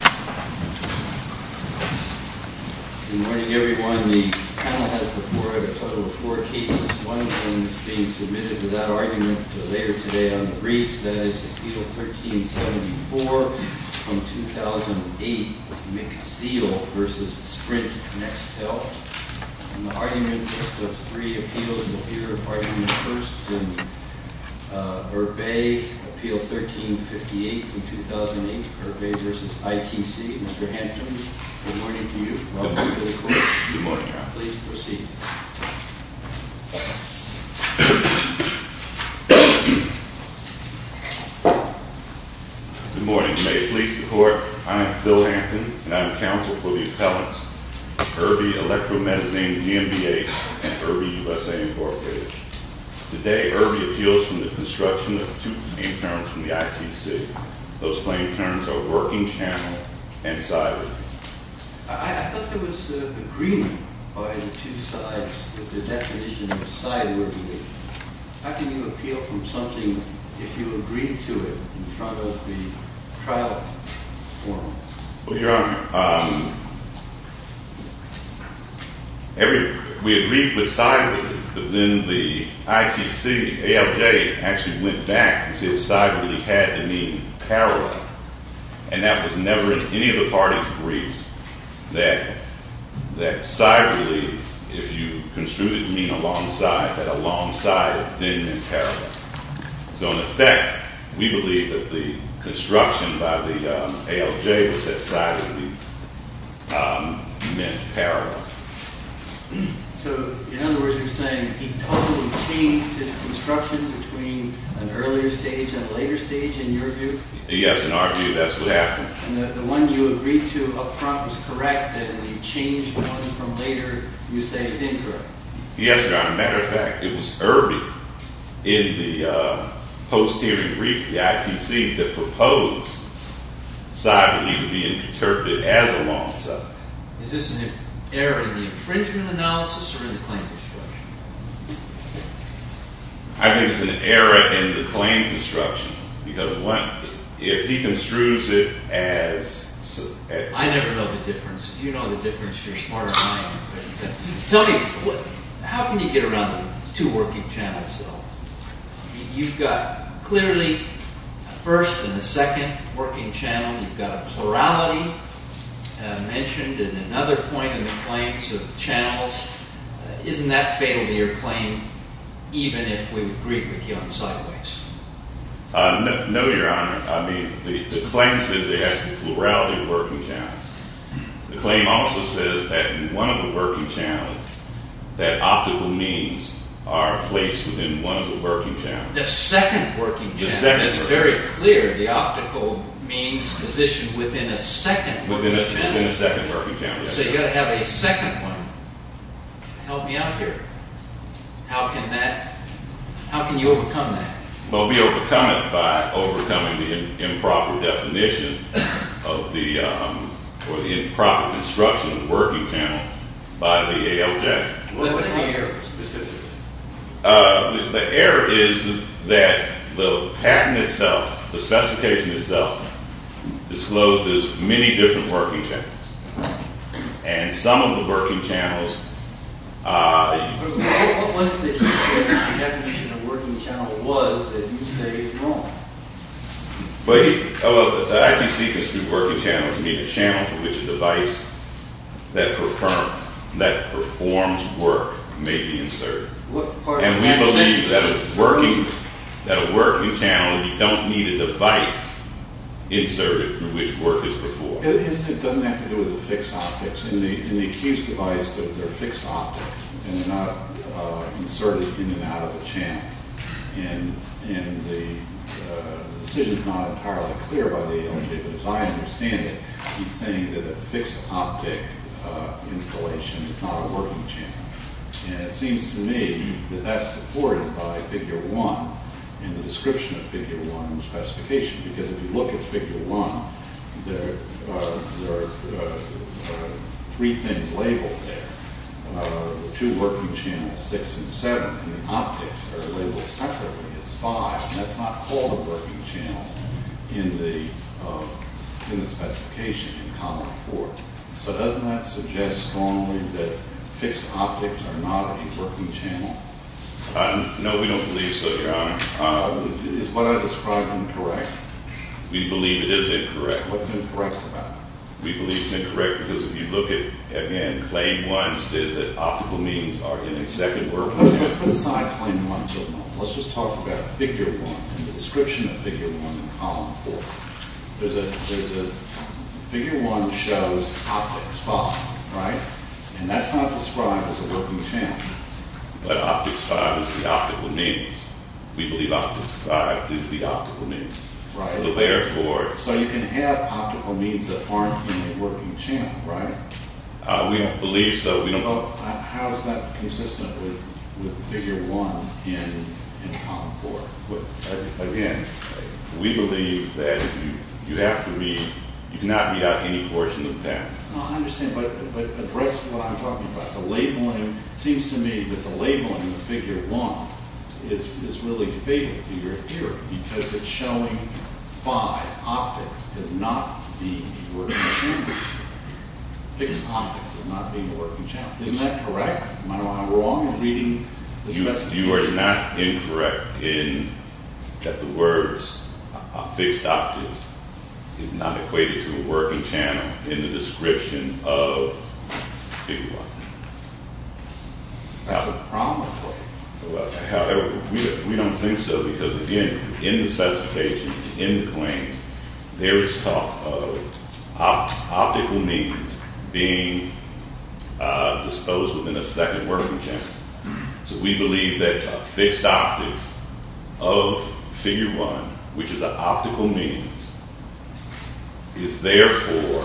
Good morning everyone. The panel has before it a total of four cases. One of them is being submitted to that argument later today on the briefs. That is Appeal 1374 from 2008, McZeel v. Sprint, Next Health. And the argument list of three appeals will appear at argument first in Urbe Appeal 1358 from 2008, Urbe v. ITC. Mr. Hampton, good morning to you. Welcome to the court. Good morning, Your Honor. Please proceed. Good morning. May it please the court, I am Phil Hampton, and I am counsel for the appellants, Urbe Electromedizin v. MBH and Urbe USA incorporated. Today, Urbe appeals from the construction of two claim terms from the ITC. Those claim terms are working channel and siloed. I thought there was agreement by the two sides with the definition of siloed. How can you appeal from something if you agree to it in front of the trial form? Well, Your Honor, we agreed with siloed, but then the ITC, ALJ, actually went back and said siloed had to mean parallel. And that was never in any of the parties' briefs, that siloed, if you construed it to mean alongside, that alongside then meant parallel. So, in effect, we believe that the construction by the ALJ was that siloed meant parallel. So, in other words, you're saying he totally changed his construction between an earlier stage and a later stage, in your view? Yes, in our view, that's what happened. And the one you agreed to up front was correct, and when you changed one from later, you say it's incorrect. Yes, Your Honor. As a matter of fact, it was Irby in the post-hearing brief of the ITC that proposed siloed being interpreted as alongside. Is this an error in the infringement analysis or in the claim construction? I think it's an error in the claim construction because if he construes it as… I never know the difference. If you know the difference, you're smarter than I am. Tell me, how can you get around the two working channels, though? You've got clearly a first and a second working channel. You've got a plurality mentioned in another point in the claims of channels. Isn't that fatal to your claim, even if we agree with you on sideways? No, Your Honor. I mean, the claim says it has the plurality of working channels. The claim also says that in one of the working channels, that optical means are placed within one of the working channels. The second working channel. It's very clear. The optical means position within a second working channel. Within a second working channel. So you've got to have a second one. Help me out here. How can you overcome that? Well, we overcome it by overcoming the improper definition of the improper construction of the working channel by the ALJ. What was the error specifically? The error is that the patent itself, the specification itself, discloses many different working channels. And some of the working channels… What was the definition of working channel was that you say is wrong? Well, the ITC construed working channel to mean a channel for which a device that performs work may be inserted. And we believe that a working channel, you don't need a device inserted through which work is performed. It doesn't have to do with the fixed optics. In the accused device, they're fixed optics. And they're not inserted in and out of the channel. And the decision is not entirely clear by the ALJ. But as I understand it, he's saying that a fixed optic installation is not a working channel. And it seems to me that that's supported by Figure 1 and the description of Figure 1 in the specification. Because if you look at Figure 1, there are three things labeled there, two working channels, 6 and 7. And the optics are labeled separately as 5. And that's not called a working channel in the specification in Common 4. So doesn't that suggest strongly that fixed optics are not a working channel? No, we don't believe so, Your Honor. Is what I described incorrect? We believe it is incorrect. What's incorrect about it? We believe it's incorrect because if you look at, again, Claim 1 says that optical means are in its second working channel. Put aside Claim 1 for a moment. Let's just talk about Figure 1 and the description of Figure 1 in Common 4. There's a – Figure 1 shows optics 5, right? And that's not described as a working channel. But optics 5 is the optical means. We believe optics 5 is the optical means. Right. So therefore – So you can have optical means that aren't in a working channel, right? We don't believe so. How is that consistent with Figure 1 in Common 4? Again, we believe that you have to read – you cannot read out any portion of that. No, I understand. But address what I'm talking about. The labeling – it seems to me that the labeling of Figure 1 is really fatal to your theory because it's showing 5, optics, as not being a working channel. Fixed optics as not being a working channel. Isn't that correct? Am I wrong in reading the specification? You are not incorrect in that the words fixed optics is not equated to a working channel in the description of Figure 1. Is that the problem? We don't think so because, again, in the specification, in the claims, there is talk of optical means being disposed within a second working channel. So we believe that fixed optics of Figure 1, which is an optical means, is therefore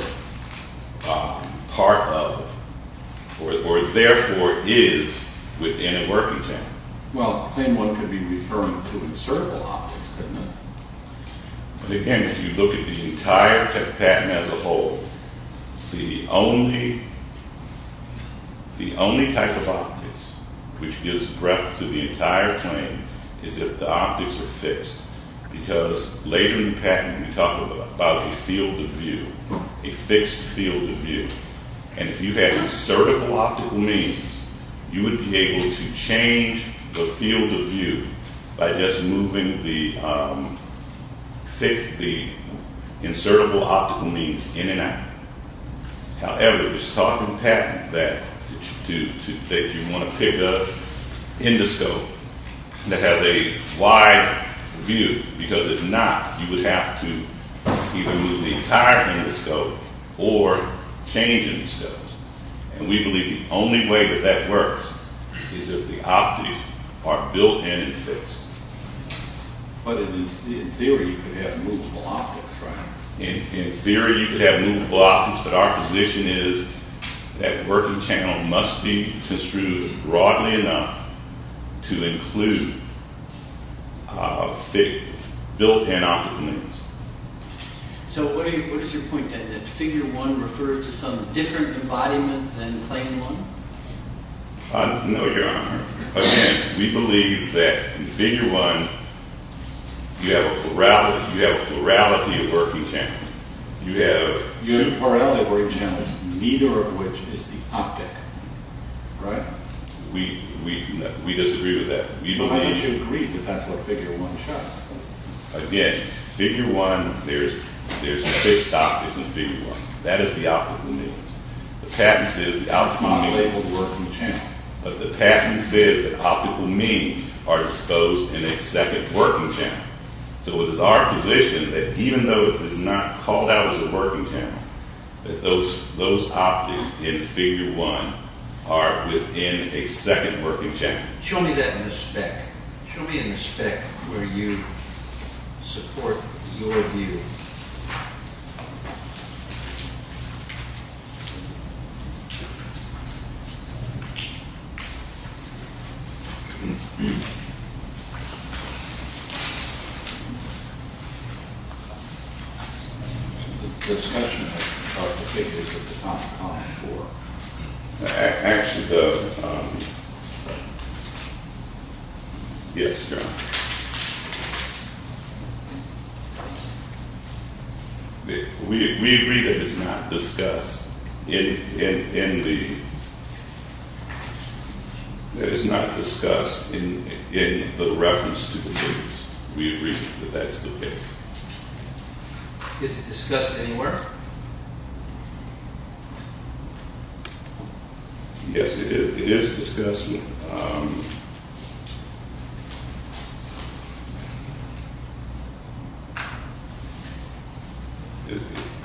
part of or therefore is within a working channel. Well, claim 1 could be referring to insertable optics, couldn't it? But again, if you look at the entire patent as a whole, the only type of optics which gives breadth to the entire claim is if the optics are fixed because later in the patent we talk about a field of view, a fixed field of view. And if you had insertable optical means, you would be able to change the field of view by just moving the insertable optical means in and out. However, it was taught in patent that you want to pick an endoscope that has a wide view because if not, you would have to either move the entire endoscope or change endoscopes. And we believe the only way that that works is if the optics are built-in and fixed. But in theory, you could have movable optics, right? In theory, you could have movable optics, but our position is that working channel must be construed broadly enough to include built-in optical means. So what is your point then? That Figure 1 refers to some different embodiment than Claim 1? No, Your Honor. Again, we believe that in Figure 1, you have a plurality of working channels. You have two parallel working channels, neither of which is the optic, right? We disagree with that. Why would you agree if that's what Figure 1 shows? Again, Figure 1, there's fixed optics in Figure 1. That is the optical means. The patent says that optical means are exposed in a second working channel. So it is our position that even though it is not called out as a working channel, that those optics in Figure 1 are within a second working channel. Show me that in the spec. Show me in the spec where you support your view. Discussion about the figures at the top. Actually, yes, Your Honor. We agree that it's not discussed in the reference to the figures. We agree that that's the case. Is it discussed anywhere? Yes, it is discussed. Yes, Your Honor.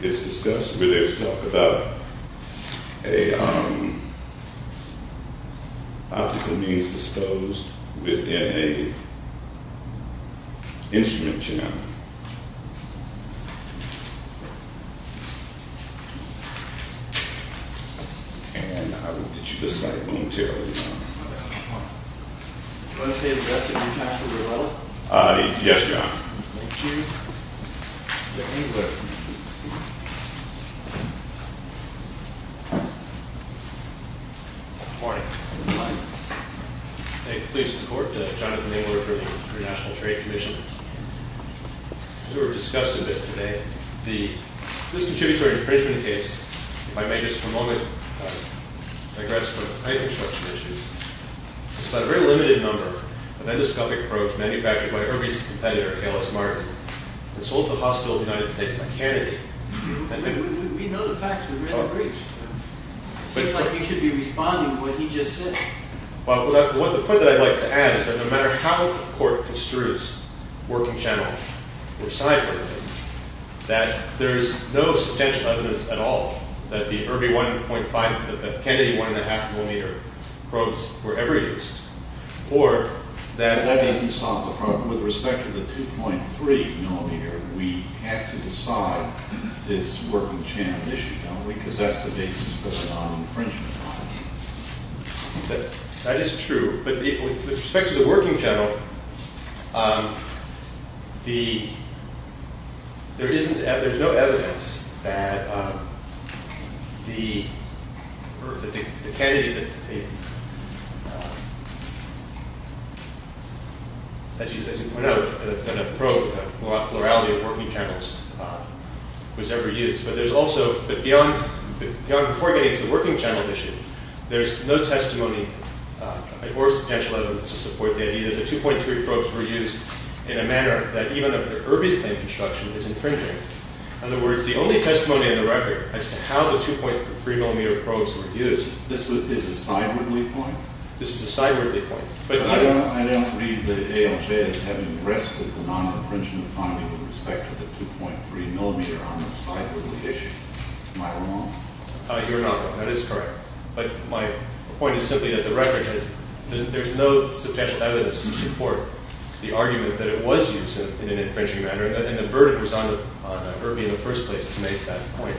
It's discussed where there's talk about optical means exposed within an instrument channel. And I will get you this side of the room, too. Do you want to say a word to your counsel, Your Honor? Yes, Your Honor. Thank you. Let me look. Good morning. Thank you. Please, the Court. Jonathan Abler for the International Trade Commission. As we've discussed a bit today, this contributory infringement case, if I may just for a moment digress from title structure issues, is about a very limited number of endoscopic probes manufactured by Herbie's competitor, Kalos Martin, and sold to the hospitals in the United States by Kennedy. We know the facts. We read the briefs. It seems like you should be responding to what he just said. Well, the point that I'd like to add is that no matter how the Court construes working channel or side probes, that there is no substantial evidence at all that the Herbie 1.5, that the Kennedy 1.5 millimeter probes were ever used. Or that Herbie solved the problem with respect to the 2.3 millimeter. Because that's the basis for the non-infringement. That is true. But with respect to the working channel, there's no evidence that the Kennedy, as you pointed out, that a probe, the plurality of working channels was ever used. But there's also, but beyond before getting to the working channel issue, there's no testimony or substantial evidence to support the idea that the 2.3 probes were used in a manner that even of the Herbie's plane construction is infringing. In other words, the only testimony in the record as to how the 2.3 millimeter probes were used. This is a sidewardly point? This is a sidewardly point. But I don't believe that ALJ is having rest with the non-infringement finding with respect to the 2.3 millimeter on the sidewardly issue. Am I wrong? You're not wrong. That is correct. But my point is simply that the record has, there's no substantial evidence to support the argument that it was used in an infringing manner. And the burden was on Herbie in the first place to make that point.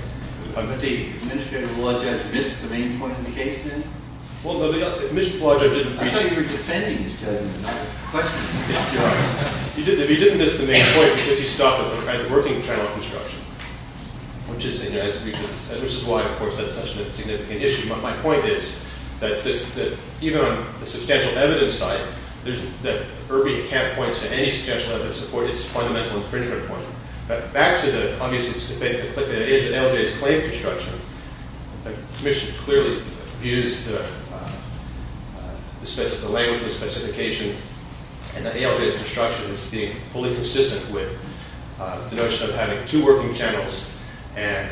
But the administrative law judge missed the main point in the case then? Well, no, the administrative law judge didn't. I thought you were defending his judgment, not questioning it. He didn't miss the main point because he stopped it by the working channel construction, which is why, of course, that's such a significant issue. But my point is that even on the substantial evidence side, that Herbie can't point to any special evidence to support its fundamental infringement point. But back to the, obviously, the ALJ's plane construction, the commission clearly abused the language of the specification. And the ALJ's construction is being fully consistent with the notion of having two working channels and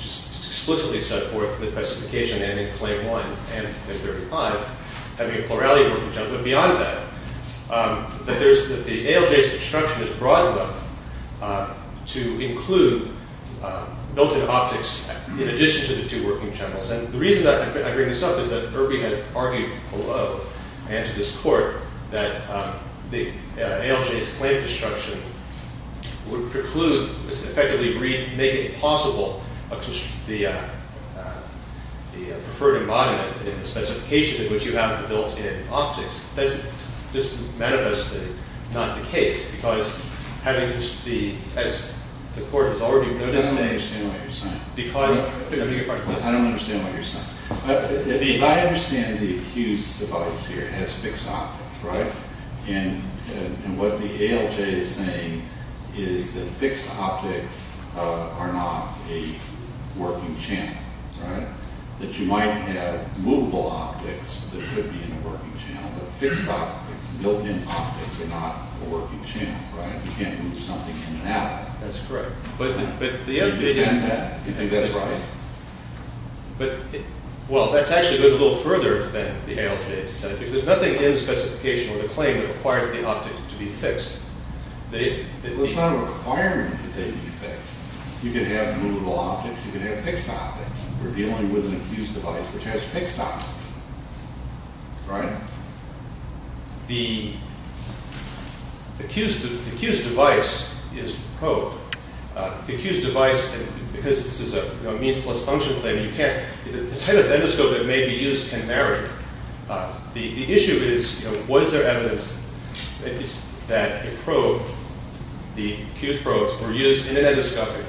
just explicitly set forth the specification and in claim 1 and 35, having a plurality of working channels. But beyond that, that the ALJ's construction is broad enough to include built-in optics in addition to the two working channels. And the reason I bring this up is that Herbie has argued below and to this court that the ALJ's plane construction would preclude, effectively make it possible, the preferred embodiment in the specification in which you have the built-in optics. Does this manifestly not the case? Because having the, as the court has already noted... I don't understand what you're saying. Because... I don't understand what you're saying. Because I understand the accused device here has fixed optics, right? And what the ALJ is saying is that fixed optics are not a working channel, right? That you might have movable optics that could be in a working channel, but fixed optics, built-in optics, are not a working channel, right? You can't move something in and out of it. That's correct. But the other thing... You defend that. You think that's right. But... Well, that actually goes a little further than the ALJ. There's nothing in the specification or the claim that requires the optics to be fixed. There's not a requirement that they be fixed. You can have movable optics. You can have fixed optics. We're dealing with an accused device, which has fixed optics, right? The accused device is probed. The accused device, because this is a means-plus-function claim, you can't... The type of endoscope that may be used can vary. The issue is, you know, was there evidence that a probe, the accused probe, were used in an endoscopic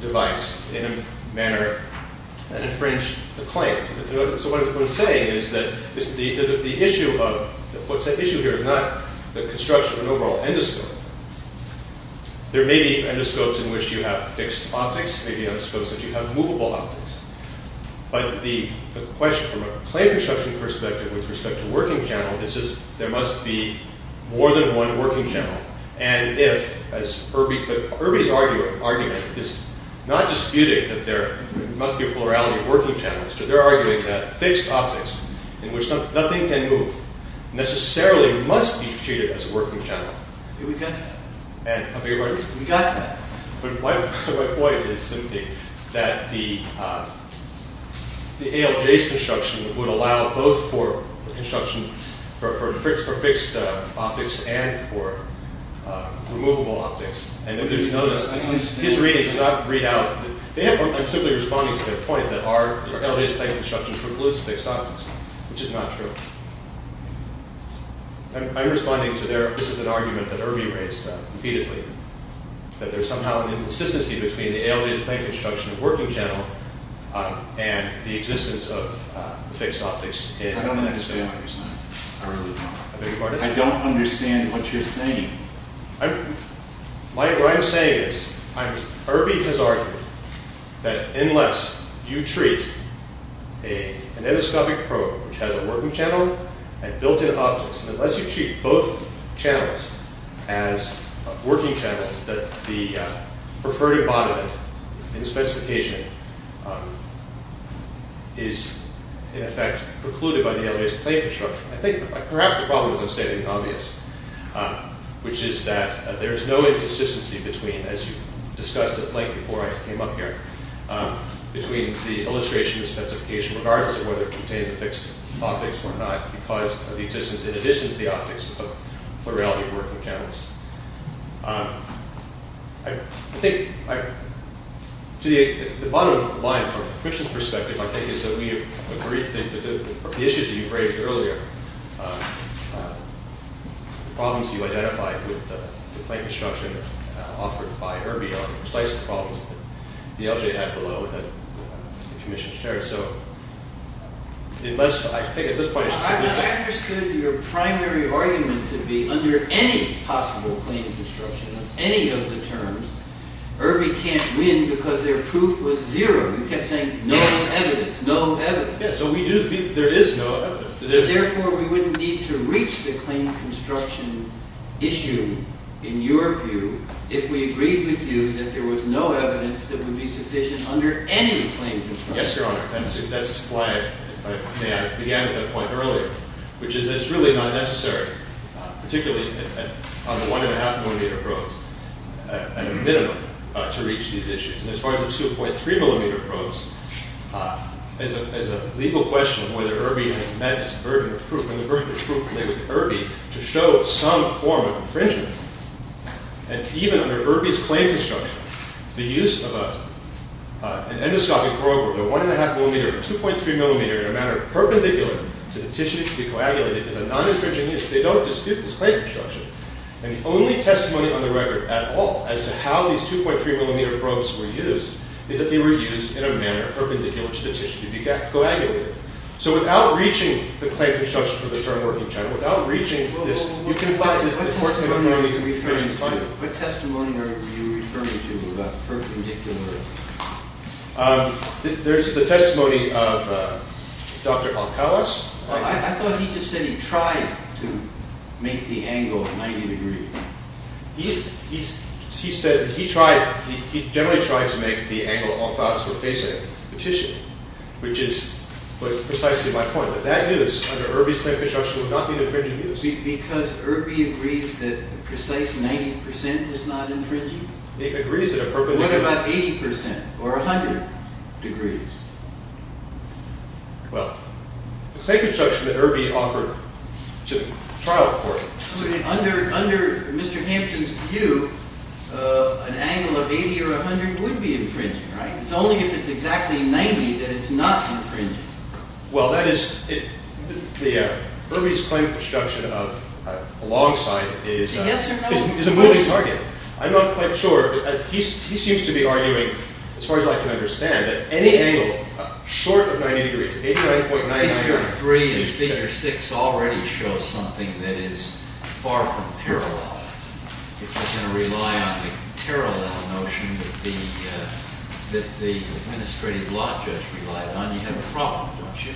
device in a manner that infringed the claim? So what I'm saying is that the issue of... What's at issue here is not the construction of an overall endoscope. There may be endoscopes in which you have fixed optics. There may be endoscopes in which you have movable optics. But the question from a claim construction perspective with respect to working channel is just there must be more than one working channel. And if, as Irby... But Irby's argument is not disputing that there must be a plurality of working channels, but they're arguing that fixed optics, in which nothing can move, necessarily must be treated as a working channel. We've got that. We've got that. But my point is simply that the ALJ's construction would allow both for construction for fixed optics and for removable optics. And there's no... His reading does not read out... I'm simply responding to the point that our ALJ's claim construction precludes fixed optics, which is not true. I'm responding to their... This is an argument that Irby raised repeatedly, that there's somehow an inconsistency between the ALJ's claim construction of working channel and the existence of fixed optics in... I don't understand what you're saying. I really don't. I beg your pardon? I don't understand what you're saying. What I'm saying is, Irby has argued that unless you treat an endoscopic probe, which has a working channel and built-in optics, unless you treat both channels as working channels, that the preferred embodiment in specification is, in effect, precluded by the ALJ's claim construction. I think perhaps the problem is I've said in the obvious, which is that there's no inconsistency between, as you discussed at length before I came up here, between the illustration and specification, regardless of whether it contains the fixed optics or not, because of the existence, in addition to the optics, of plurality of working channels. I think, to the bottom of the line, from the Commission's perspective, I think it's that we agree that the issues that you raised earlier, the problems you identified with the claim construction offered by Irby are precisely the problems that the ALJ had below that the Commission shared. So, unless, I think at this point... I understood your primary argument to be, under any possible claim construction of any of the terms, Irby can't win because their proof was zero. You kept saying, no evidence, no evidence. Yes, so we do think there is no evidence. Therefore, we wouldn't need to reach the claim construction issue, in your view, if we agreed with you that there was no evidence that would be sufficient under any claim construction. Yes, Your Honor, that's why I began at that point earlier, which is that it's really not necessary, particularly on the 1.5mm probes, at a minimum, to reach these issues. And as far as the 2.3mm probes, as a legal question of whether Irby has met its burden of proof, and the burden of proof related to Irby, to show some form of infringement, and even under Irby's claim construction, the use of an endoscopic probe of a 1.5mm or 2.3mm in a manner perpendicular to the tissue to be coagulated is a non-infringing use. They don't dispute this claim construction. And the only testimony on the record at all as to how these 2.3mm probes were used is that they were used in a manner perpendicular to the tissue to be coagulated. So without reaching the claim construction for the term working channel, without reaching this... What testimony are you referring to, about perpendicular... There's the testimony of Dr. Althaus. I thought he just said he tried to make the angle 90 degrees. He said that he generally tried to make the angle Althaus was facing the tissue, which is precisely my point. But that use under Irby's claim construction would not be an infringing use. Because Irby agrees that a precise 90% is not infringing? He agrees that a perpendicular... What about 80% or 100 degrees? Well, the claim construction that Irby offered to trial court... Under Mr. Hampton's view, an angle of 80 or 100 would be infringing, right? It's only if it's exactly 90 that it's not infringing. Well, that is... Irby's claim construction alongside is a moving target. I'm not quite sure. He seems to be arguing, as far as I can understand, that any angle short of 90 degrees, 89.99... Figure 3 and Figure 6 already show something that is far from parallel. If you're going to rely on the parallel notion that the administrative law judge relied on, you have a problem, don't you?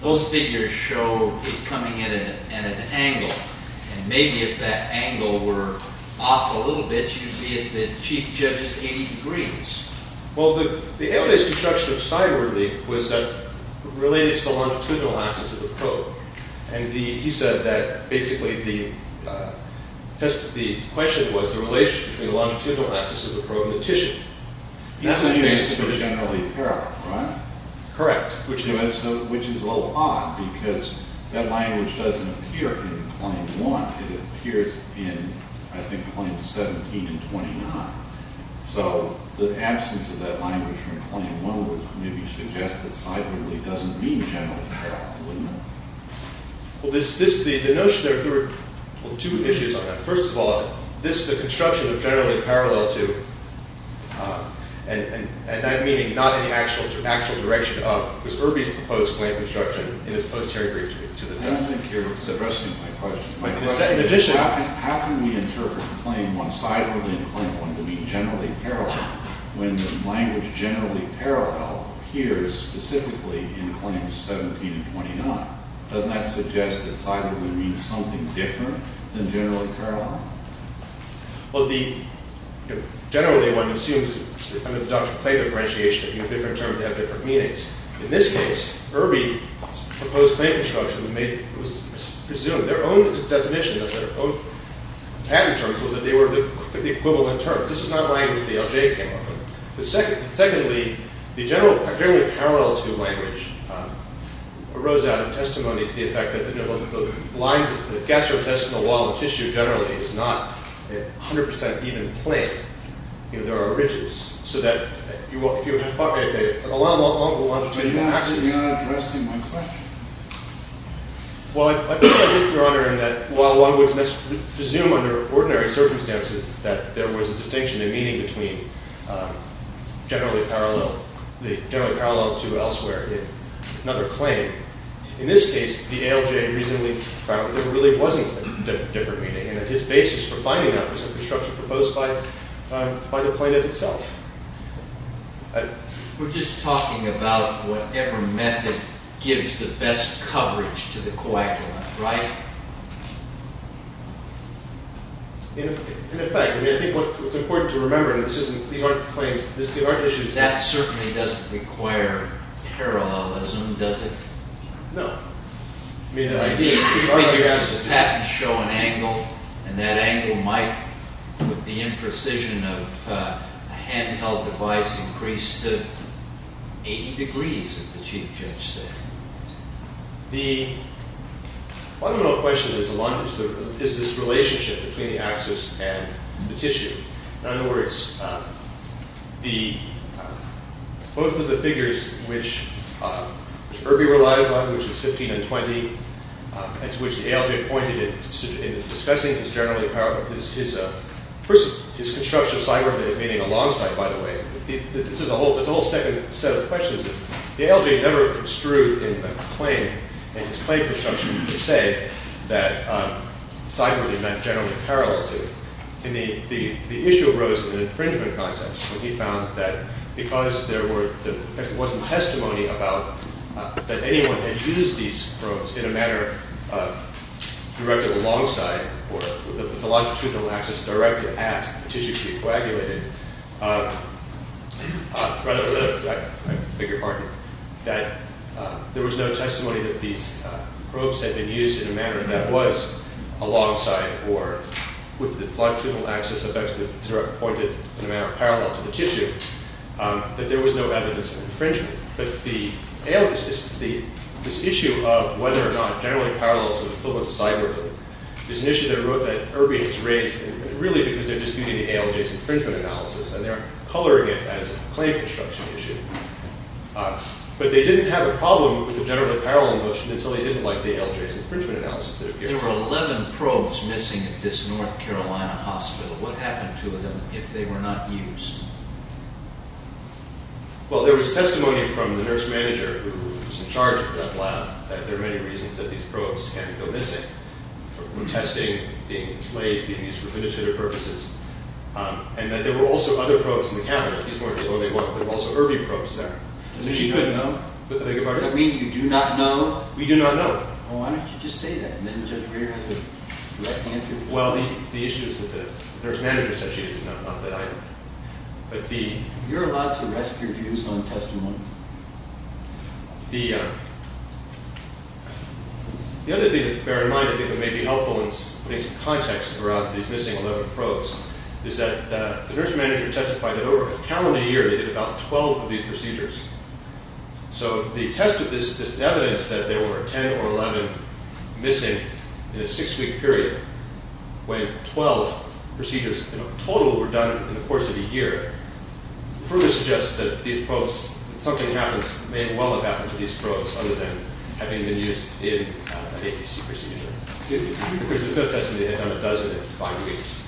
Those figures show it coming in at an angle. And maybe if that angle were off a little bit, you'd be at the chief judge's 80 degrees. Well, the Althaus construction of sidewardly was related to the longitudinal axis of the probe. And he said that basically the question was the relation between the longitudinal axis of the probe and the tissue. He's saying it's generally parallel, right? Correct. Which is a little odd, because that language doesn't appear in Claim 1. It appears in, I think, Claims 17 and 29. So the absence of that language from Claim 1 would maybe suggest that sidewardly doesn't mean generally parallel, wouldn't it? Well, the notion there... Well, two issues on that. First of all, this is a construction of generally parallel to... and that meaning not in the actual direction of... because Irby's proposed claim construction in his post-Herry briefs... I don't think you're suppressing my question. In addition, how can we interpret Claim 1 sidewardly and Claim 1 to be generally parallel when the language generally parallel appears specifically in Claims 17 and 29? Doesn't that suggest that sidewardly means something different than generally parallel? Well, generally one assumes under the doctrine of claim differentiation that different terms have different meanings. In this case, Irby's proposed claim construction was presumed... their own definition of their own patent terms was that they were the equivalent terms. This is not language the LJ came up with. Secondly, the generally parallel to language arose out of testimony to the effect that the lines... the gastrointestinal wall of tissue generally is not 100% even plane. You know, there are ridges. So that if you... But you're not addressing my question. Well, I think, Your Honor, that while one would presume under ordinary circumstances that there was a distinction and meaning between generally parallel... the generally parallel to elsewhere is another claim. In this case, the ALJ reasonably found that there really wasn't a different meaning and that his basis for finding that was a construction proposed by the plaintiff itself. We're just talking about whatever method gives the best coverage to the coagulant, right? In effect. I mean, I think what's important to remember and this isn't... these aren't claims... That certainly doesn't require parallelism, does it? No. I mean, the patent show an angle and that angle might, with the imprecision of a handheld device, increase to 80 degrees, as the Chief Judge said. The fundamental question is this relationship between the axis and the tissue. In other words, both of the figures, which Irby relies on, which is 15 and 20, and to which the ALJ pointed in discussing is generally parallel. First, his construction of side work that he's meaning alongside, by the way. That's a whole second set of questions. The ALJ never construed in the claim, in his claim construction per se, that side work is generally parallel to it. The issue arose in an infringement context when he found that because there wasn't testimony about that anyone had used these probes in a manner directed alongside or with the longitudinal axis directly at the tissue to be coagulated. Rather, I beg your pardon, that there was no testimony that these probes had been used in a manner that was alongside or with the longitudinal axis pointed in a manner parallel to the tissue, that there was no evidence of infringement. But this issue of whether or not generally parallel to the equivalent of side work is an issue that Irby has raised, really because they're disputing the ALJ's infringement analysis, and they're coloring it as a claim construction issue. But they didn't have a problem with the generally parallel notion until they didn't like the ALJ's infringement analysis that appeared. There were 11 probes missing at this North Carolina hospital. What happened to them if they were not used? Well, there was testimony from the nurse manager who was in charge of that lab that there are many reasons that these probes can't go missing. Testing, being enslaved, being used for fiduciary purposes, and that there were also other probes in the cabinet. There were also Irby probes there. Does that mean you do not know? We do not know. Well, why don't you just say that, and then Judge Reeder has a direct answer. Well, the issue is that the nurse manager said she did not want that item. You're allowed to rest your views on testimony. The other thing to bear in mind, I think that may be helpful in putting some context throughout these missing 11 probes, is that the nurse manager testified that over a calendar year they did about 12 of these procedures. So they tested this evidence that there were 10 or 11 missing in a 6-week period when 12 procedures in total were done in the course of a year. The proof is just that these probes, that something happens, may well have happened to these probes other than having been used in an APC procedure. Because there's no testing that had done a dozen in 5 weeks.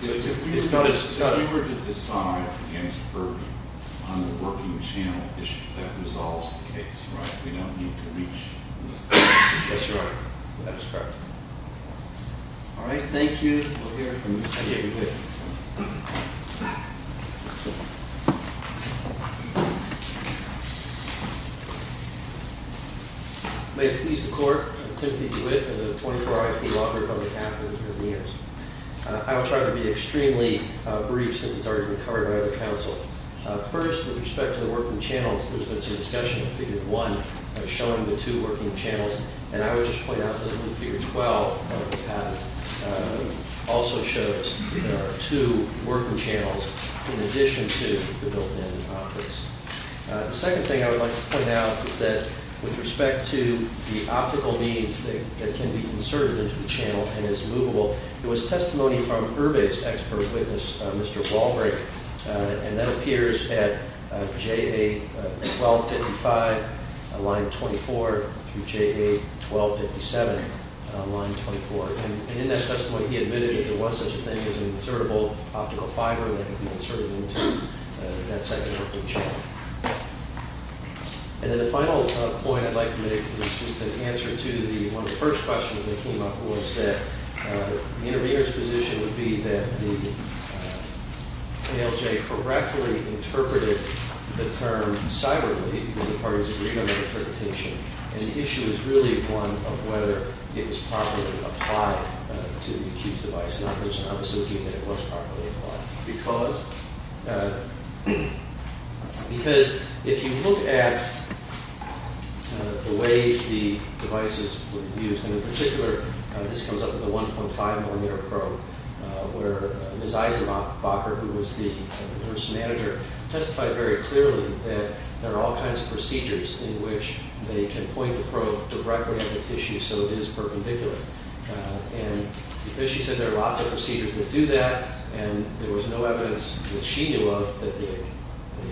If you were to decide against Irby on the working channel issue, that resolves the case, right? We don't need to reach this point. That's right. That is correct. All right, thank you. We'll hear from you. Thank you. Thank you. May it please the Court, Timothy DeWitt of the 24-hour IP Law Group on behalf of the Attorney General's. I will try to be extremely brief since it's already been covered by other counsel. First, with respect to the working channels, there's been some discussion of Fig. 1 showing the two working channels. And I would just point out that Fig. 12 also shows two working channels in addition to the built-in optics. The second thing I would like to point out is that with respect to the optical means that can be inserted into the channel and is movable, there was testimony from Irby's expert witness, Mr. Walbright, and that appears at JA 1255, line 24, through JA 1257, line 24. And in that testimony, he admitted that there was such a thing as an insertable optical fiber that could be inserted into that second working channel. And then the final point I'd like to make is just an answer to one of the first questions that came up, which was that the intervener's position would be that the ALJ correctly interpreted the term cyberly, because the parties agreed on the interpretation. And the issue is really one of whether it was properly applied to the accused device. Now, there's an obvious opinion that it was properly applied. Because if you look at the way the devices were used, and in particular, this comes up with the 1.5 millimeter probe, where Ms. Eisenbacher, who was the nurse manager, testified very clearly that there are all kinds of procedures in which they can point the probe directly at the tissue, so it is perpendicular. And as she said, there are lots of procedures that do that, and there was no evidence that she knew of that the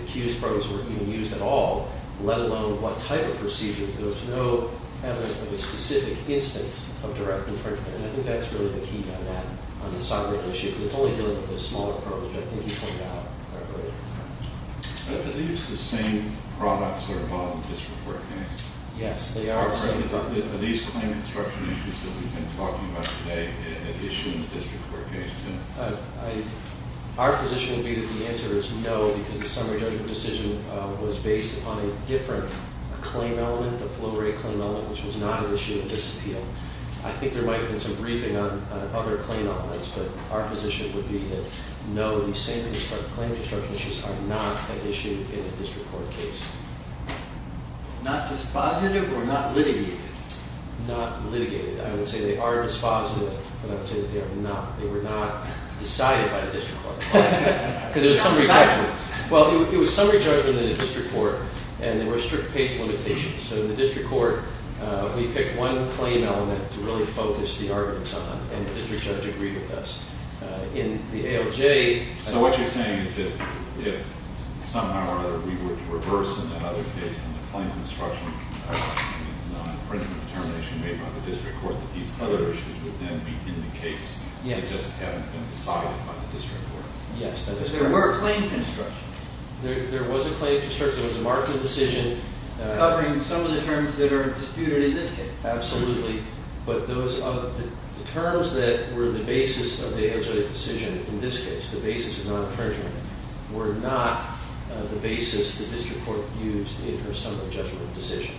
accused probes were even used at all, let alone what type of procedure. There was no evidence of a specific instance of direct infringement. And I think that's really the key on that, on the cyber issue. But it's only dealing with the smaller probes, which I think you pointed out correctly. Are these the same products that are involved in the district court case? Yes, they are the same. Are these claim construction issues that we've been talking about today an issue in the district court case, too? Our position would be that the answer is no, because the summary judgment decision was based upon a different claim element, the flow rate claim element, which was not an issue in this appeal. I think there might have been some briefing on other claim elements, but our position would be that no, these same claim construction issues are not an issue in the district court case. Not dispositive or not litigated? Not litigated. I would say they are dispositive, but I would say that they were not decided by the district court. Because there was summary judgment. Well, it was summary judgment in the district court, and there were strict page limitations. So in the district court, we picked one claim element to really focus the arguments on, and the district judge agreed with us. In the ALJ... So what you're saying is that if somehow or other we were to reverse in that other case on the claim construction and the infringement determination made by the district court, that these other issues would then be in the case, they just haven't been decided by the district court? Yes, that is correct. There were claim construction. There was a claim construction. It was a marked decision. Covering some of the terms that are disputed in this case. Absolutely. But those of the terms that were the basis of the ALJ's decision, in this case, the basis of non-infringement, were not the basis the district court used in her summary judgment decision.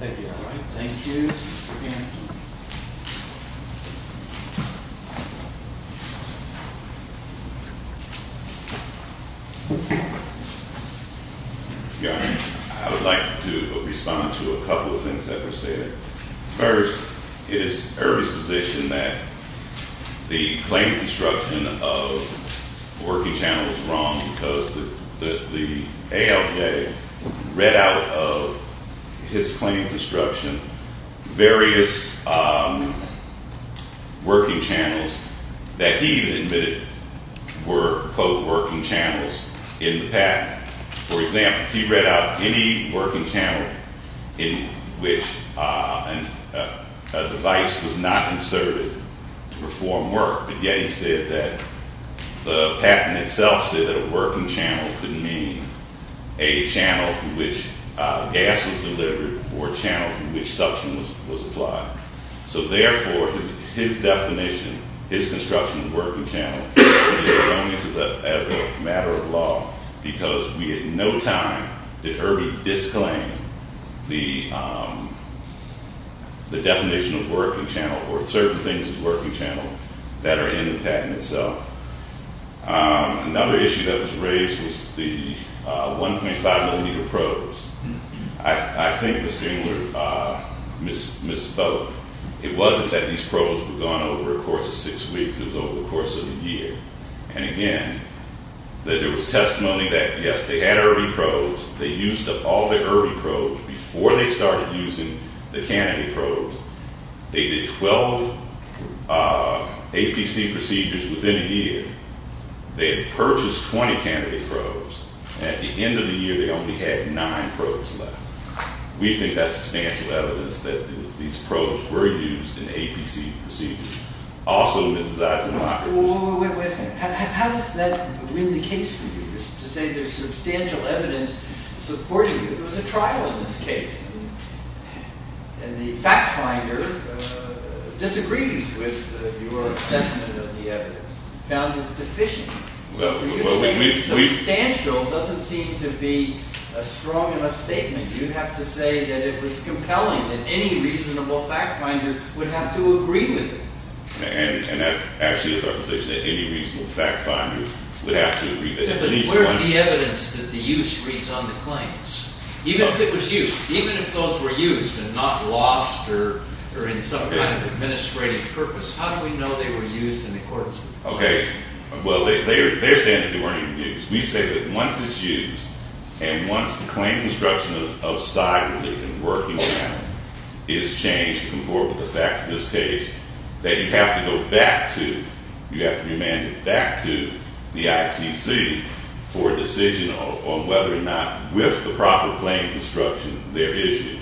Thank you. Thank you. Yeah, I would like to respond to a couple of things that were stated. First, it is Ernie's position that the claim construction of working channels was wrong because the ALJ read out of his claim construction various working channels that he even admitted were, quote, working channels in the patent. For example, he read out any working channel in which a device was not inserted to perform work, but yet he said that the patent itself said that a working channel could mean a channel through which gas was delivered or a channel through which suction was applied. So therefore, his definition, his construction of the working channel, is wrong as a matter of law because we had no time to Ernie disclaim the definition of working channel or certain things as working channel that are in the patent itself. Another issue that was raised was the 1.5 millimeter probes. I think Mr. Engler misspoke. It wasn't that these probes were gone over a course of six weeks. It was over the course of a year. And again, there was testimony that yes, they had early probes. They used up all their early probes before they started using the canopy probes. They did 12 APC procedures within a year. They had purchased 20 canopy probes. At the end of the year, they only had nine probes left. We think that's substantial evidence that these probes were used in APC procedures. Also, Mrs. Eisenmacher... Wait a second. How does that win the case for you? To say there's substantial evidence supporting that there was a trial in this case and the fact finder disagrees with your assessment of the evidence, found it deficient. Substantial doesn't seem to be a strong enough statement. You'd have to say that it was compelling that any reasonable fact finder would have to agree with it. And that actually is our position, that any reasonable fact finder would have to agree with it. But where's the evidence that the use reads on the claims? Even if it was used, even if those were used and not lost or in some kind of administrative purpose, how do we know they were used in accordance with the claims? Okay. Well, they're saying that they weren't even used. We say that once it's used and once the claim construction of side relief and working around it is changed to conform with the facts of this case, that you have to go back to, you have to remand it back to the ITC for a decision on whether or not with the proper claim construction there is use.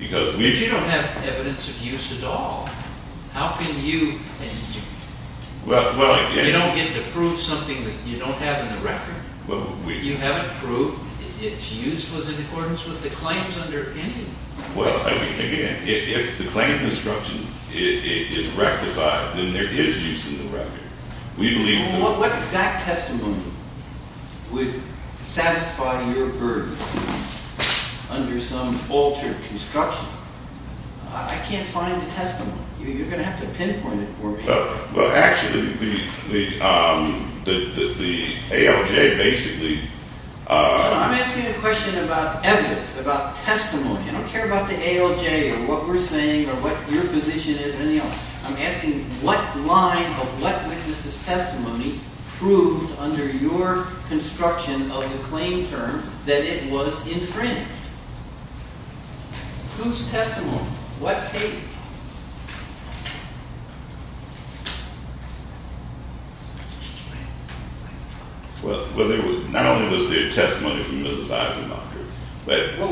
If you don't have evidence of use at all, how can you... You don't get to prove something that you don't have in the record. You haven't proved its use was in accordance with the claims under any... Well, again, if the claim construction is rectified, then there is use in the record. We believe... What exact testimony would satisfy your burden under some altered construction? I can't find the testimony. You're going to have to pinpoint it for me. Well, actually, the ALJ basically... I'm asking a question about evidence, about testimony. I don't care about the ALJ or what we're saying or what your position is or anything else. I'm asking what line of what witness' testimony proved under your construction of the claim term that it was infringed? Whose testimony? What case? Well, not only was there testimony from Mrs. Eisenacher, but... Well,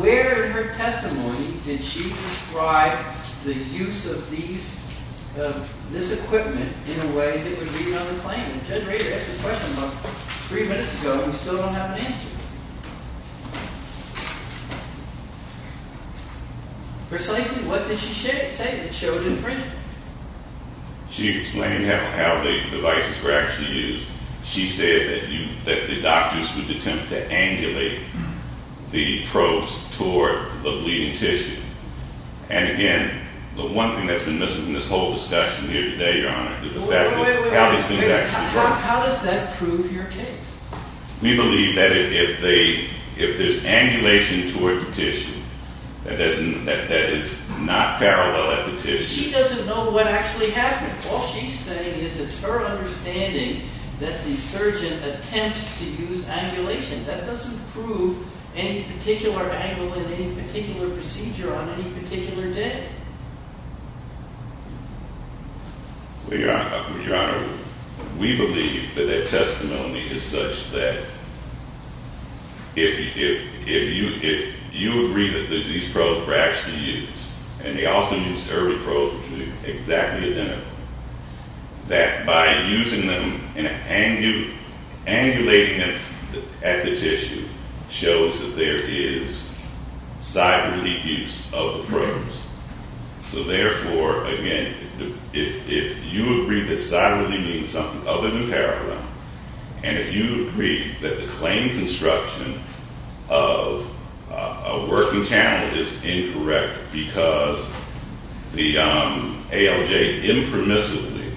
where in her testimony did she describe the use of these... of this equipment in a way that would read on the claim? The generator asked this question about three minutes ago and we still don't have an answer. Precisely what did she say that showed infringement? She explained how the devices were actually used. She said that the doctors would attempt to angulate the probes toward the bleeding tissue. And again, the one thing that's been missing in this whole discussion here today, Your Honor, is the fact that... How does that prove your case? We believe that if they... if there's angulation toward the tissue that is not parallel at the tissue... She doesn't know what actually happened. All she's saying is it's her understanding that the surgeon attempts to use angulation. That doesn't prove any particular angle in any particular procedure on any particular day. Your Honor, we believe that that testimony is such that if you agree that these probes were actually used and they also used early probes which are exactly identical, that by using them and angulating them at the tissue shows that there is side relief use of the probes. So therefore, again, if you agree that side relief means something other than parallel, and if you agree that the claim construction of a working channel is incorrect because the ALJ impermissibly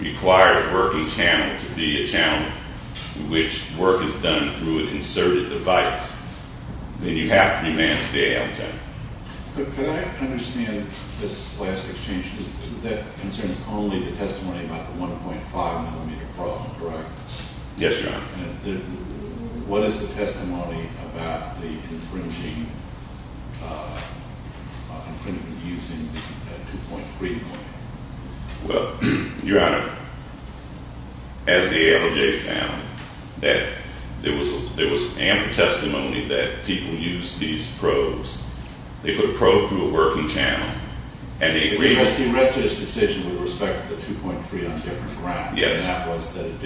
required a working channel to be a channel which work is done through an inserted device, then you have to demand the ALJ. Could I understand this last exchange, because that concerns only the testimony about the 1.5 millimeter problem, correct? Yes, Your Honor. What is the testimony about the infringing, infringement using the 2.3 millimeter? Well, Your Honor, as the ALJ found that there was ampered testimony that people use these probes, they put a probe through a working channel and they agreed. They arrested this decision with respect to the 2.3 on different grounds, and that was that it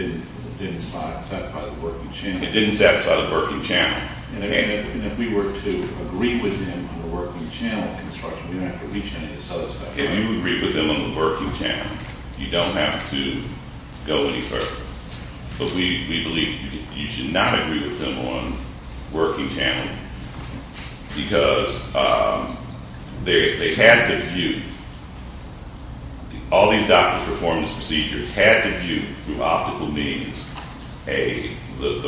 didn't satisfy the working channel. It didn't satisfy the working channel. And if we were to agree with them on the working channel construction, we don't have to reach any of this other stuff. If you agree with them on the working channel, you don't have to go any further. But we believe you should not agree with them on the working channel, because they had to view, all these doctors' performance procedures had to view through optical means the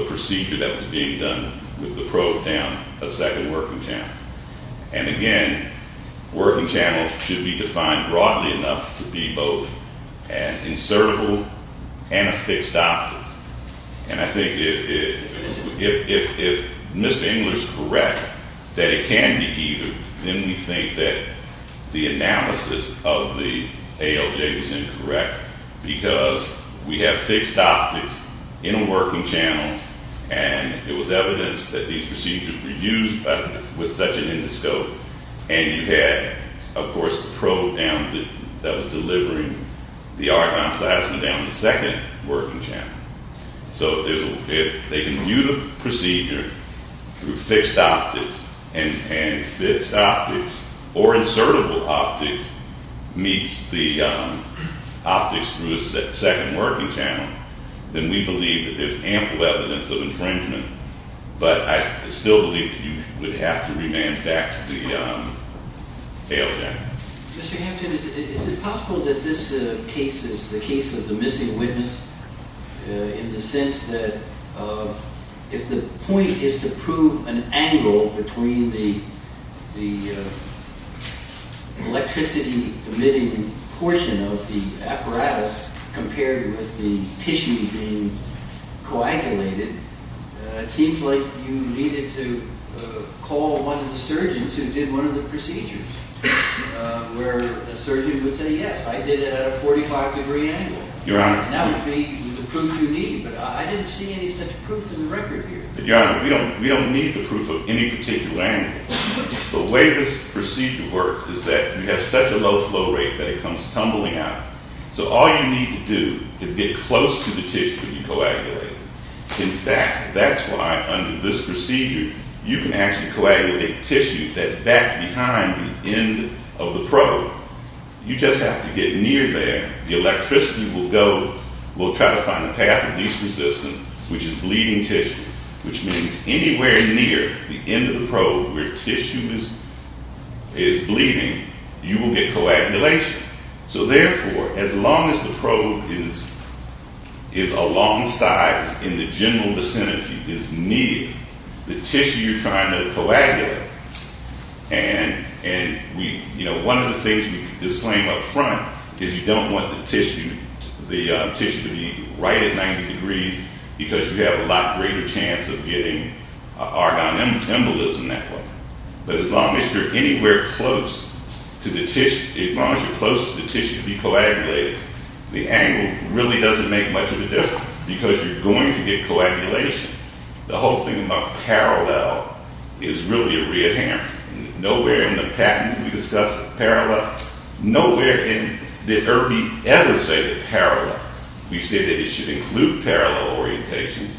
procedure that was being done with the probe down a second working channel. And again, working channels should be defined broadly enough to be both an insertable and a fixed optics. And I think if Mr. Engler's correct that it can be either, then we think that the analysis of the ALJ was incorrect, because we have fixed optics in a working channel and it was evidenced that these procedures were used with such an endoscope, and you had, of course, the probe down that was delivering the argon plasma down the second working channel. So if they can view the procedure through fixed optics and fixed optics or insertable optics meets the optics through a second working channel, then we believe that there's ample evidence of infringement. But I still believe that you would have to remand back to the ALJ. Mr. Hampton, is it possible that this case is the case of the missing witness in the sense that if the point is to prove an angle between the electricity emitting portion of the apparatus compared with the tissue being coagulated, it seems like you needed to call one of the surgeons who did one of the procedures where a surgeon would say, yes, I did it at a 45 degree angle. Your Honor. That would be the proof you need, but I didn't see any such proof in the record here. Your Honor, we don't need the proof of any particular angle. The way this procedure works is that you have such a low flow rate that it comes tumbling out. So all you need to do is get close to the tissue that you coagulate. In fact, that's why under this procedure, you can actually coagulate tissue that's back behind the end of the probe. You just have to get near there. The electricity will go. We'll try to find the path of least resistance, which is bleeding tissue, which means anywhere near the end of the probe where tissue is bleeding, you will get coagulation. So therefore, as long as the probe is alongside in the general vicinity, is near the tissue you're trying to coagulate, and one of the things that we usually disclaim up front is you don't want the tissue to be right at 90 degrees because you have a lot greater chance of getting argon embolism that way. But as long as you're anywhere close to the tissue, as long as you're close to the tissue to be coagulated, the angle really doesn't make much of a difference because you're going to get coagulation. The whole thing about parallel is really a red herring. Nowhere in the patent do we discuss parallel. Nowhere in the IRB ever say that parallel. We say that it should include parallel orientations,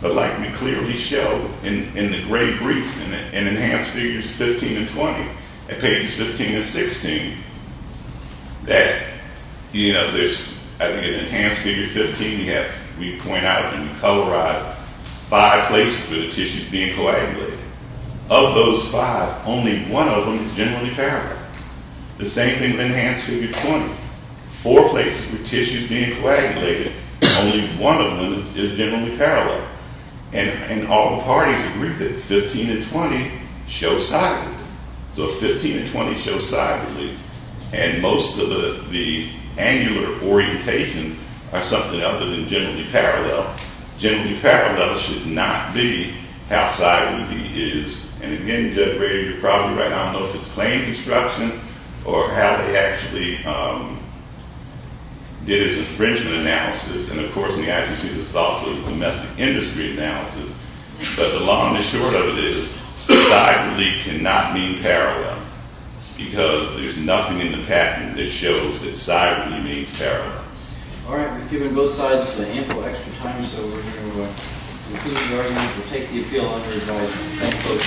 but like we clearly show in the gray brief in Enhanced Figures 15 and 20 at pages 15 and 16, that there's, I think in Enhanced Figures 15, we point out and we colorize five places where the tissue is being coagulated. Of those five, only one of them is generally parallel. The same thing with Enhanced Figure 20. Four places where the tissue is being coagulated and only one of them is generally parallel. And all the parties agree that 15 and 20 show sideways. So 15 and 20 show sideways. And most of the angular orientation are something other than generally parallel. Generally parallel should not be how sideways it is. And again, Judge Brady, you're probably right. I don't know if it's claim construction or how they actually did his infringement analysis. And of course, in the accuracy, this is also a domestic industry analysis. But the long and the short of it is sideway cannot mean parallel because there's nothing in the patent that shows that sideway means parallel. All right. We've given both sides ample extra time so we're going to conclude the argument and take the appeal under a vote. Thank you.